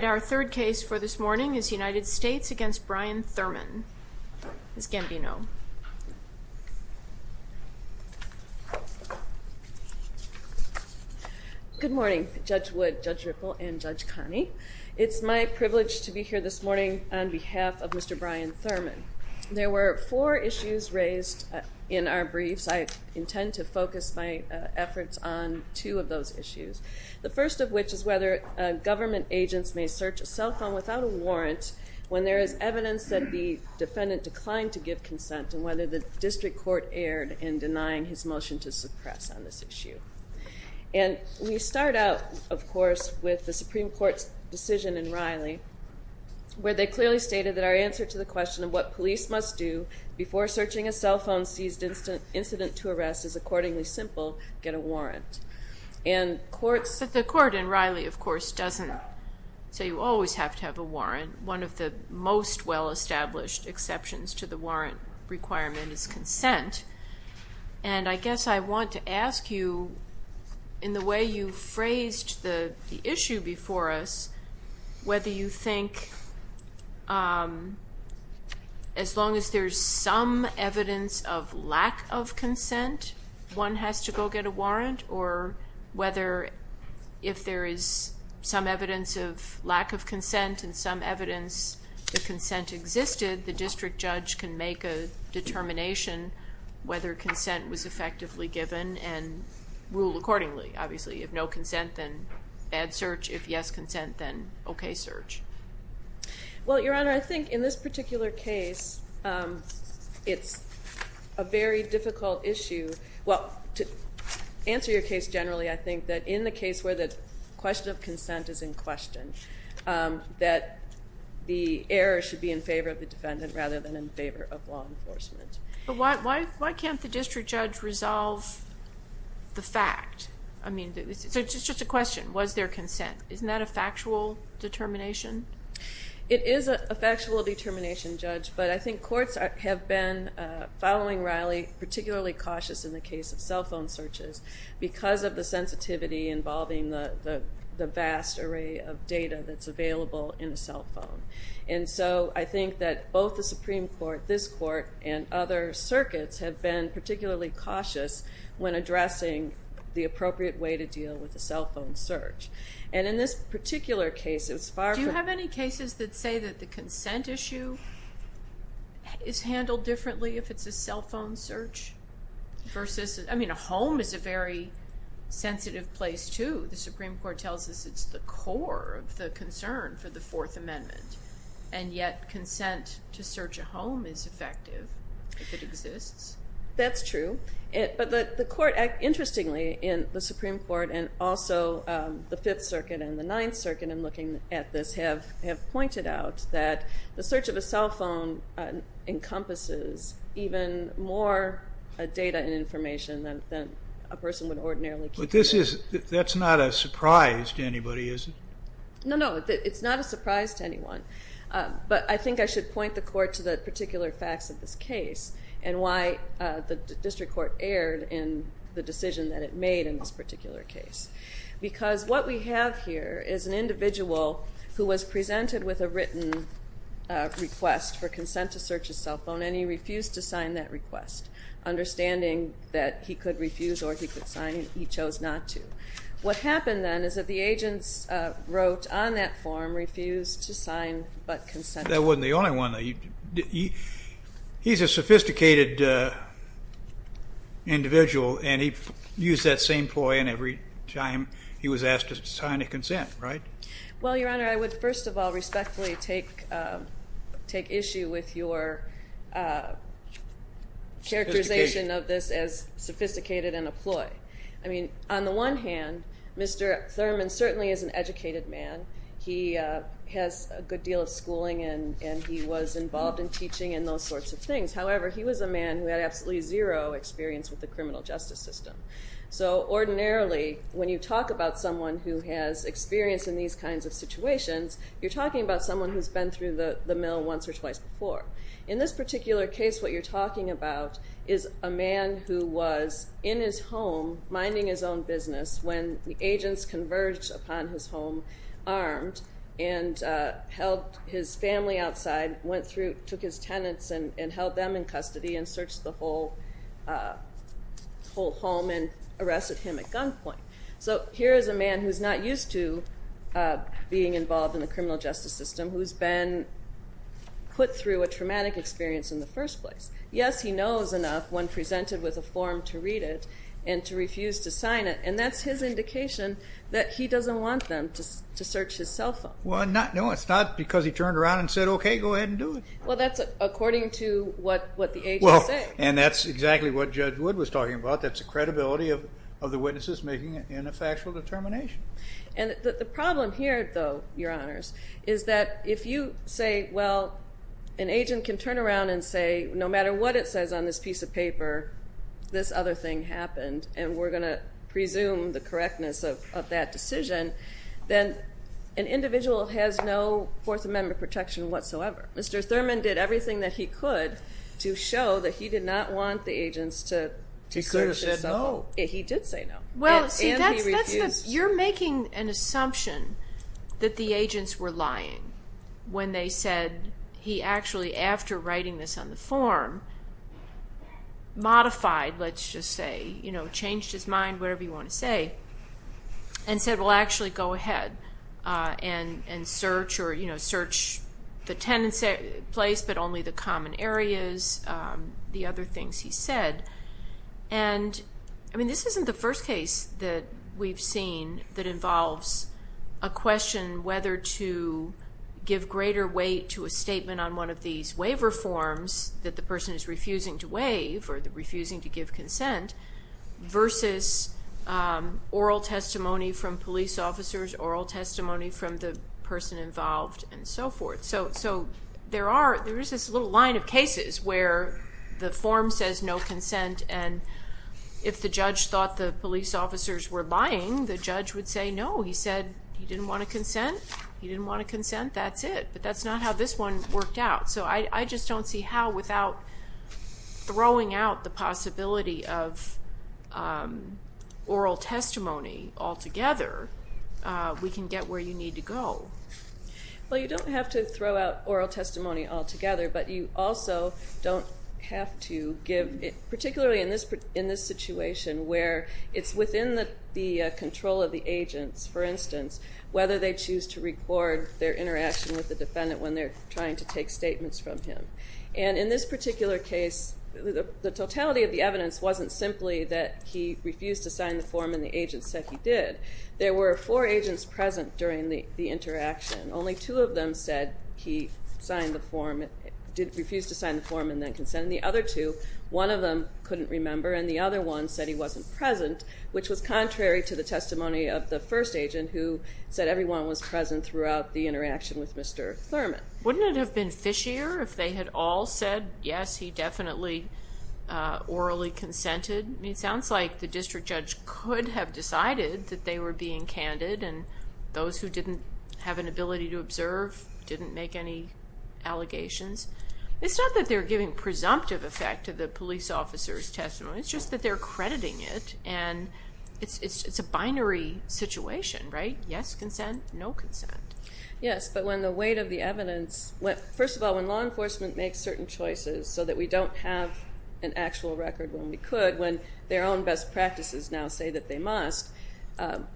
Our third case for this morning is United States v. Brian Thurman. Ms. Gambino. Good morning Judge Wood, Judge Ripple, and Judge Connie. It's my privilege to be here this morning on behalf of Mr. Brian Thurman. There were four issues raised in our briefs. I intend to focus my efforts on two of those issues. The first of which is whether government agents may search a cell phone without a warrant when there is evidence that the defendant declined to give consent, and whether the district court erred in denying his motion to suppress on this issue. And we start out, of course, with the Supreme Court's decision in Riley where they clearly stated that our answer to the question of what police must do before searching a cell phone seized incident to arrest is accordingly simple, get a warrant. But the court in Riley, of course, doesn't say you always have to have a warrant. One of the most well-established exceptions to the warrant requirement is consent. And I guess I want to ask you, in the way you phrased the issue before us, whether you think as long as there's some evidence of lack of consent, one has to go get a warrant, or whether if there is some evidence of lack of consent and some evidence that consent existed, the district judge can make a determination whether consent was effectively given and rule accordingly. Obviously, if no consent, then bad search. If yes consent, then okay search. Well, Your Honor, I think in this particular case, it's a very difficult issue. Well, to answer your case generally, I think that in the case where the question of consent is in question, that the error should be in favor of the defendant rather than in favor of law enforcement. But why can't the district judge resolve the fact? I mean, so it's just a question. Was there consent? Isn't that a factual determination? It is a factual determination, Judge. But I think courts have been, following Riley, particularly cautious in the case of cell phone searches because of the sensitivity involving the vast array of data that's available in a cell phone. And so I think that both the Supreme Court, this Court, and other circuits have been particularly cautious when addressing the appropriate way to deal with a cell phone search. And in this particular case, it's far from... Do you have any cases that say that the consent issue is handled differently if it's a cell phone search? I mean, a home is a very sensitive place, too. The Supreme Court tells us it's the core of the concern for the Fourth Amendment. And yet consent to search a home is effective if it exists. That's true. But the Court, interestingly, in the Supreme Court, and also the Fifth Circuit and the Ninth Circuit, in looking at this, have pointed out that the search of a cell phone encompasses even more data and information than a person would ordinarily keep. But that's not a surprise to anybody, is it? No, no, it's not a surprise to anyone. But I think I should point the Court to the particular facts of this case and why the District Court erred in the decision that it made in this particular case. Because what we have here is an individual who was presented with a written request for consent to search a cell phone, and he refused to sign that request, understanding that he could refuse or he could sign it. He chose not to. What happened then is that the agents wrote on that form, refused to sign, but consented. That wasn't the only one, though. He's a sophisticated individual, and he used that same ploy, and every time he was asked to sign a consent, right? Well, Your Honor, I would first of all respectfully take issue with your characterization of this as sophisticated and a ploy. I mean, on the one hand, Mr. Thurman certainly is an educated man. He has a good deal of schooling, and he was involved in teaching and those sorts of things. However, he was a man who had absolutely zero experience with the criminal justice system. So ordinarily, when you talk about someone who has experience in these kinds of situations, you're talking about someone who's been through the mill once or twice before. In this particular case, what you're talking about is a man who was in his home minding his own business when the agents converged upon his home armed and held his family outside, went through, took his tenants, and held them in custody and searched the whole home and arrested him at gunpoint. So here is a man who's not used to being involved in the criminal justice system, who's been put through a traumatic experience in the first place. Yes, he knows enough when presented with a form to read it and to refuse to sign it, and that's his indication that he doesn't want them to search his cell phone. Well, no, it's not because he turned around and said, okay, go ahead and do it. Well, that's according to what the agent said. Well, and that's exactly what Judge Wood was talking about. That's the credibility of the witnesses making a factual determination. And the problem here, though, Your Honors, is that if you say, well, an agent can turn around and say, no matter what it says on this piece of paper, this other thing happened, and we're going to presume the correctness of that decision, then an individual has no Fourth Amendment protection whatsoever. Mr. Thurman did everything that he could to show that he did not want the agents to search his cell phone. He could have said no. He did say no. Well, see, you're making an assumption that the agents were lying when they said he actually, after writing this on the form, modified, let's just say, you know, changed his mind, whatever you want to say, and said, well, actually go ahead and search or, you know, search the tenant's place but only the common areas, the other things he said. And, I mean, this isn't the first case that we've seen that involves a question whether to give greater weight to a statement on one of these waiver forms that the person is refusing to waive or refusing to give consent versus oral testimony from police officers, oral testimony from the person involved, and so forth. So there is this little line of cases where the form says no consent, and if the judge thought the police officers were lying, the judge would say no. He said he didn't want to consent. He didn't want to consent. That's it. But that's not how this one worked out. So I just don't see how, without throwing out the possibility of oral testimony altogether, we can get where you need to go. Well, you don't have to throw out oral testimony altogether, but you also don't have to give, particularly in this situation where it's within the control of the agents, for instance, whether they choose to record their interaction with the defendant when they're trying to take statements from him. And in this particular case, the totality of the evidence wasn't simply that he refused to sign the form and the agent said he did. There were four agents present during the interaction. Only two of them said he refused to sign the form and then consent, and the other two, one of them couldn't remember and the other one said he wasn't present, which was contrary to the testimony of the first agent, who said everyone was present throughout the interaction with Mr. Thurman. Wouldn't it have been fishier if they had all said, yes, he definitely orally consented? I mean, it sounds like the district judge could have decided that they were being candid and those who didn't have an ability to observe didn't make any allegations. It's not that they're giving presumptive effect to the police officer's testimony. It's just that they're crediting it and it's a binary situation, right? Yes, consent, no consent. Yes, but when the weight of the evidence, first of all, when law enforcement makes certain choices so that we don't have an actual record when we could, when their own best practices now say that they must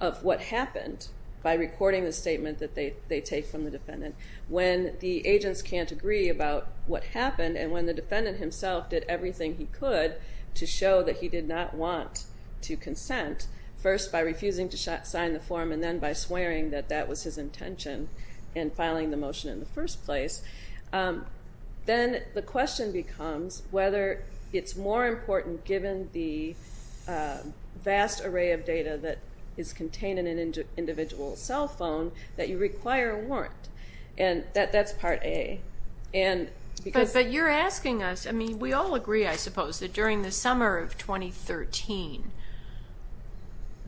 of what happened by recording the statement that they take from the defendant, when the agents can't agree about what happened and when the defendant himself did everything he could to show that he did not want to consent, first by refusing to sign the form and then by swearing that that was his intention and filing the motion in the first place, then the question becomes whether it's more important, given the vast array of data that is contained in an individual's cell phone, that you require a warrant, and that's part A. But you're asking us, I mean, we all agree, I suppose, that during the summer of 2013,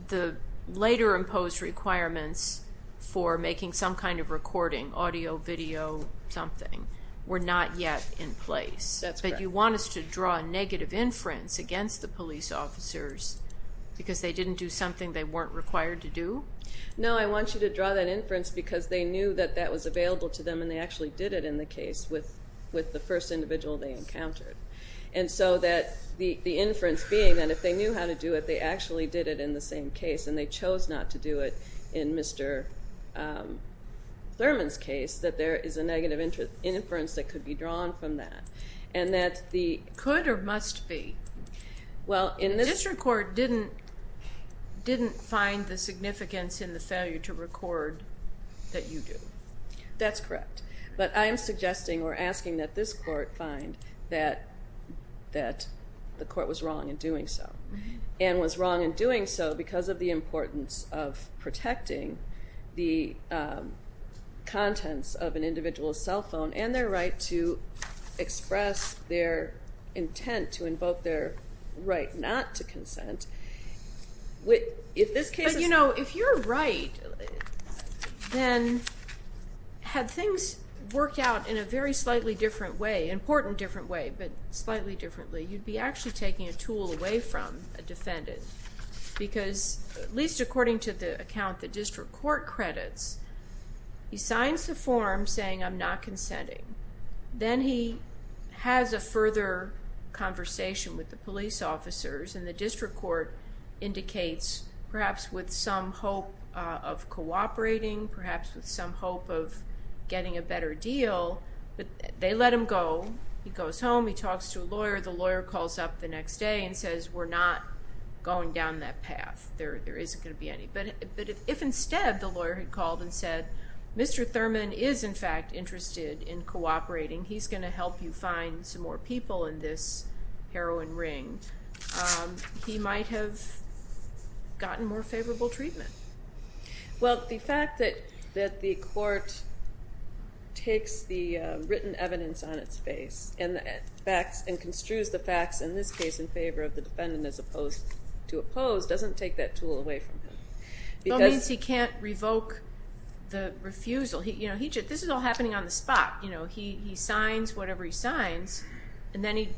the later imposed requirements for making some kind of recording, audio, video, something, were not yet in place. That's correct. But you want us to draw a negative inference against the police officers because they didn't do something they weren't required to do? No, I want you to draw that inference because they knew that that was available to them and they actually did it in the case with the first individual they encountered. And so the inference being that if they knew how to do it, they actually did it in the same case and they chose not to do it in Mr. Thurman's case, that there is a negative inference that could be drawn from that. Could or must be? Well, in this record didn't find the significance in the failure to record that you do. That's correct. But I am suggesting or asking that this court find that the court was wrong in doing so and was wrong in doing so because of the importance of protecting the contents of an individual's cell phone and their right to express their intent to invoke their right not to consent. But you know, if you're right, then had things worked out in a very slightly different way, important different way, but slightly differently, you'd be actually taking a tool away from a defendant because at least according to the account the district court credits, he signs the form saying I'm not consenting. Then he has a further conversation with the police officers and the district court indicates perhaps with some hope of cooperating, perhaps with some hope of getting a better deal. But they let him go. He goes home. He talks to a lawyer. The lawyer calls up the next day and says we're not going down that path. There isn't going to be any. But if instead the lawyer had called and said Mr. Thurman is in fact interested in cooperating, he's going to help you find some more people in this heroin ring, he might have gotten more favorable treatment. Well, the fact that the court takes the written evidence on its face and construes the facts in this case in favor of the defendant as opposed to opposed doesn't take that tool away from him. That means he can't revoke the refusal. This is all happening on the spot. He signs whatever he signs, and then he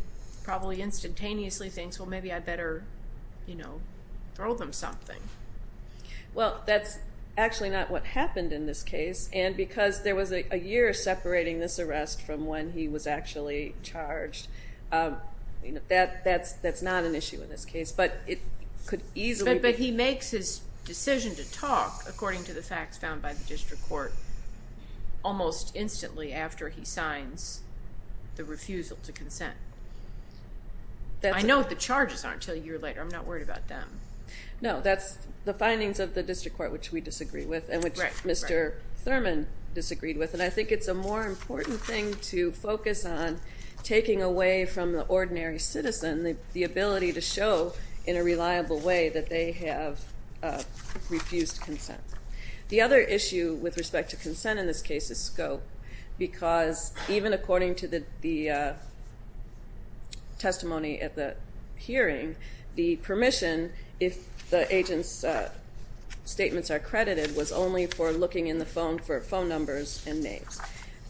probably instantaneously thinks, well, maybe I better throw them something. Well, that's actually not what happened in this case, and because there was a year separating this arrest from when he was actually charged, that's not an issue in this case, but it could easily be. But he makes his decision to talk, according to the facts found by the district court, almost instantly after he signs the refusal to consent. I know what the charges are until a year later. I'm not worried about them. No, that's the findings of the district court, which we disagree with and which Mr. Thurman disagreed with, and I think it's a more important thing to focus on taking away from the ordinary citizen the ability to show in a reliable way that they have refused consent. The other issue with respect to consent in this case is scope, because even according to the testimony at the hearing, the permission, if the agent's statements are credited, was only for looking in the phone for phone numbers and names.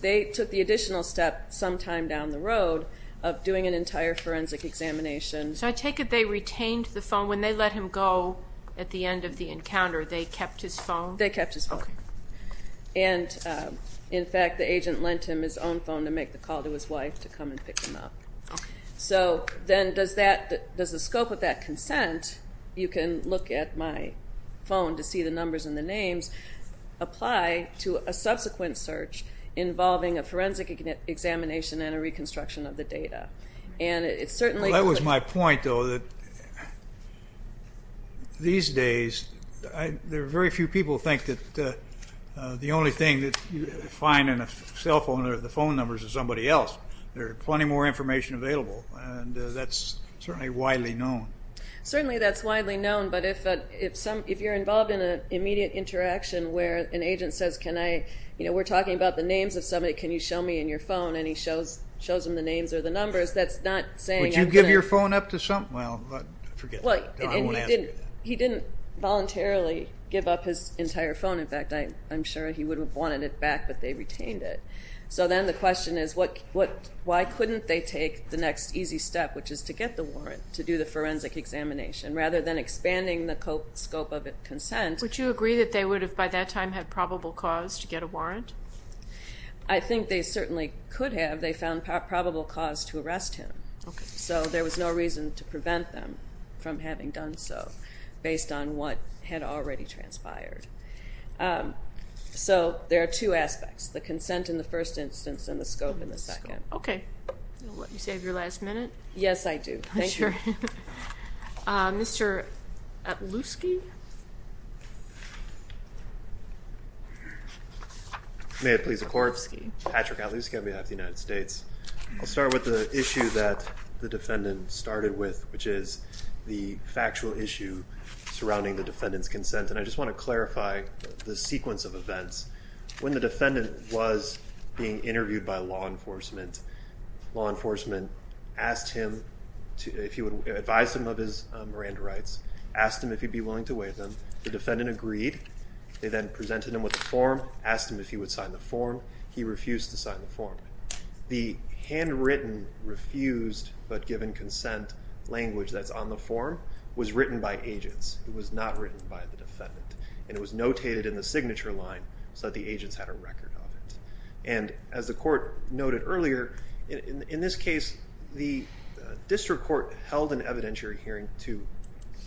They took the additional step sometime down the road of doing an entire forensic examination. So I take it they retained the phone. And when they let him go at the end of the encounter, they kept his phone? They kept his phone. And, in fact, the agent lent him his own phone to make the call to his wife to come and pick him up. So then does the scope of that consent, you can look at my phone to see the numbers and the names, apply to a subsequent search involving a forensic examination and a reconstruction of the data? Well, that was my point, though, that these days, there are very few people who think that the only thing that you find in a cell phone are the phone numbers of somebody else. There are plenty more information available, and that's certainly widely known. Certainly that's widely known, but if you're involved in an immediate interaction where an agent says, you know, we're talking about the names of somebody, can you show me in your phone, and he shows them the names or the numbers, that's not saying anything. Would you give your phone up to someone? Well, forget that. No, I won't answer that. He didn't voluntarily give up his entire phone. In fact, I'm sure he would have wanted it back, but they retained it. So then the question is, why couldn't they take the next easy step, which is to get the warrant to do the forensic examination, rather than expanding the scope of a consent? Would you agree that they would have by that time had probable cause to get a warrant? I think they certainly could have. They found probable cause to arrest him, so there was no reason to prevent them from having done so based on what had already transpired. So there are two aspects, the consent in the first instance and the scope in the second. Okay. You'll let me save your last minute? Yes, I do. Thank you. Mr. Atlusky? May it please the Court? Patrick Atlusky on behalf of the United States. I'll start with the issue that the defendant started with, which is the factual issue surrounding the defendant's consent. And I just want to clarify the sequence of events. When the defendant was being interviewed by law enforcement, law enforcement asked him if he would advise him of his Miranda rights, asked him if he'd be willing to waive them. The defendant agreed. They then presented him with a form, asked him if he would sign the form. He refused to sign the form. The handwritten refused but given consent language that's on the form was written by agents. It was not written by the defendant. And it was notated in the signature line so that the agents had a record of it. And as the court noted earlier, in this case, the district court held an evidentiary hearing to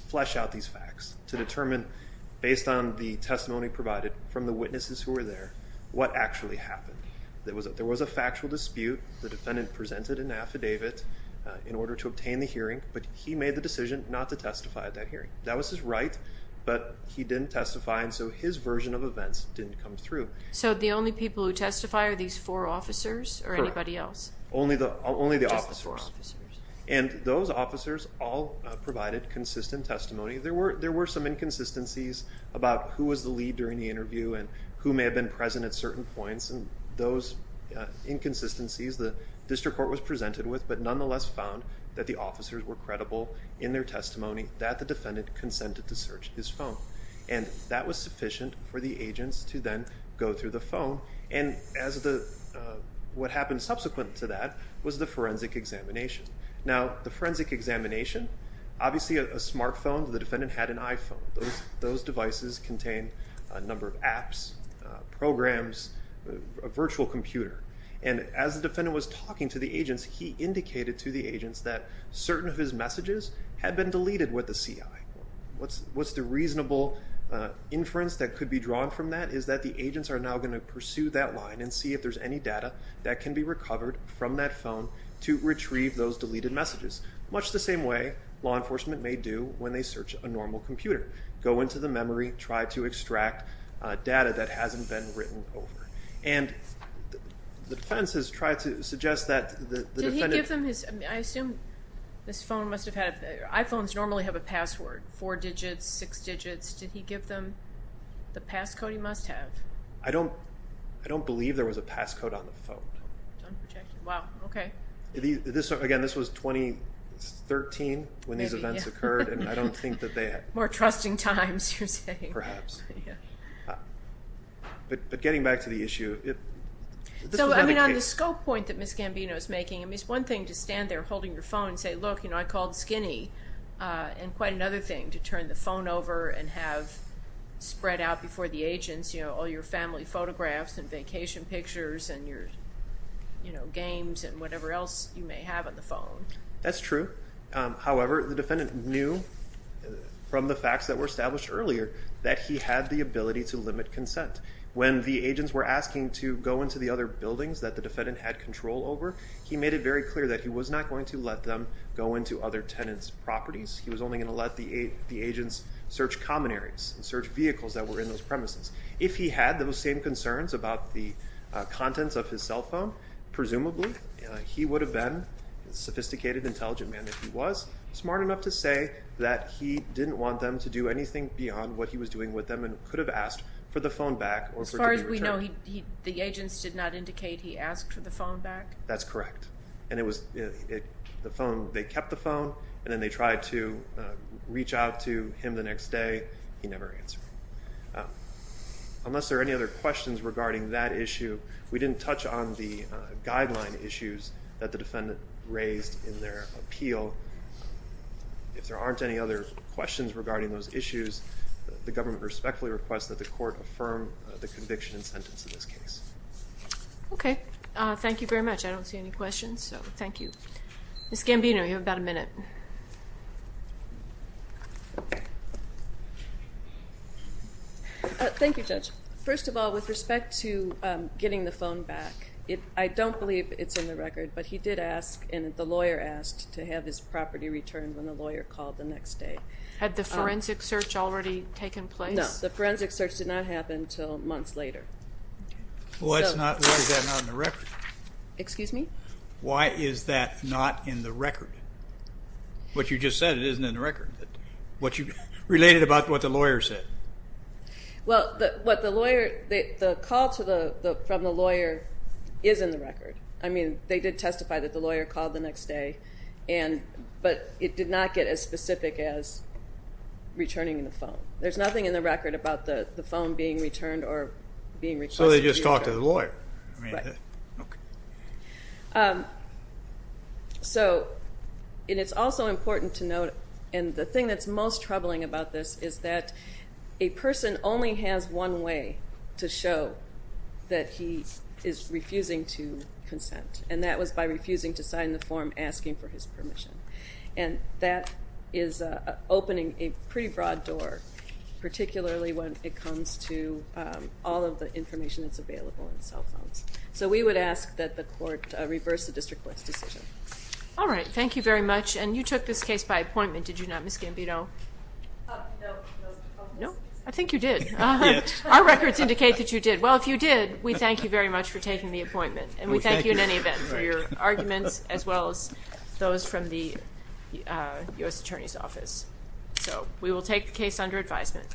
flesh out these facts, to determine, based on the testimony provided from the witnesses who were there, what actually happened. There was a factual dispute. The defendant presented an affidavit in order to obtain the hearing, but he made the decision not to testify at that hearing. That was his right, but he didn't testify, and so his version of events didn't come through. So the only people who testify are these four officers or anybody else? Correct. Only the officers. Just the four officers. And those officers all provided consistent testimony. There were some inconsistencies about who was the lead during the interview and who may have been present at certain points, and those inconsistencies the district court was presented with but nonetheless found that the officers were credible in their testimony that the defendant consented to search his phone. And that was sufficient for the agents to then go through the phone, and what happened subsequent to that was the forensic examination. Now, the forensic examination, obviously a smartphone. The defendant had an iPhone. Those devices contained a number of apps, programs, a virtual computer, and as the defendant was talking to the agents, he indicated to the agents that certain of his messages had been deleted with the CI. What's the reasonable inference that could be drawn from that is that the agents are now going to pursue that line and see if there's any data that can be recovered from that phone to retrieve those deleted messages, much the same way law enforcement may do when they search a normal computer, go into the memory, try to extract data that hasn't been written over. And the defense has tried to suggest that the defendant Did he give them his, I assume this phone must have had, iPhones normally have a password, four digits, six digits. Did he give them the passcode he must have? I don't believe there was a passcode on the phone. Wow, okay. Again, this was 2013 when these events occurred, and I don't think that they had. More trusting times, you're saying. Perhaps. But getting back to the issue, this was not a case. So, I mean, on the scope point that Ms. Gambino is making, I mean, it's one thing to stand there holding your phone and say, look, you know, I called Skinny. And quite another thing to turn the phone over and have spread out before the agents, you know, all your family photographs and vacation pictures and your, you know, games and whatever else you may have on the phone. That's true. However, the defendant knew from the facts that were established earlier that he had the ability to limit consent. When the agents were asking to go into the other buildings that the defendant had control over, he made it very clear that he was not going to let them go into other tenants' properties. He was only going to let the agents search common areas and search vehicles that were in those premises. If he had those same concerns about the contents of his cell phone, presumably he would have been the sophisticated, intelligent man that he was, smart enough to say that he didn't want them to do anything beyond what he was doing with them and could have asked for the phone back or for it to be returned. As far as we know, the agents did not indicate he asked for the phone back? That's correct. And it was the phone, they kept the phone, and then they tried to reach out to him the next day. He never answered. Unless there are any other questions regarding that issue, we didn't touch on the guideline issues that the defendant raised in their appeal. If there aren't any other questions regarding those issues, the government respectfully requests that the court affirm the conviction and sentence in this case. Okay. Thank you very much. I don't see any questions, so thank you. Ms. Gambino, you have about a minute. Thank you, Judge. First of all, with respect to getting the phone back, I don't believe it's in the record, but he did ask and the lawyer asked to have his property returned when the lawyer called the next day. Had the forensic search already taken place? No, the forensic search did not happen until months later. Why is that not in the record? Excuse me? Why is that not in the record? What you just said, it isn't in the record. Relate it about what the lawyer said. Well, what the lawyer, the call from the lawyer is in the record. I mean, they did testify that the lawyer called the next day, but it did not get as specific as returning the phone. There's nothing in the record about the phone being returned or being requested to be returned. So they just talked to the lawyer. Right. Okay. So it is also important to note, and the thing that's most troubling about this, is that a person only has one way to show that he is refusing to consent, and that was by refusing to sign the form asking for his permission. And that is opening a pretty broad door, particularly when it comes to all of the information that's available in cell phones. So we would ask that the court reverse the district court's decision. All right. Thank you very much. And you took this case by appointment, did you not, Ms. Gambino? No. No? I think you did. Our records indicate that you did. Well, if you did, we thank you very much for taking the appointment, and we thank you in any event for your arguments as well as those from the U.S. Attorney's Office. So we will take the case under advisement.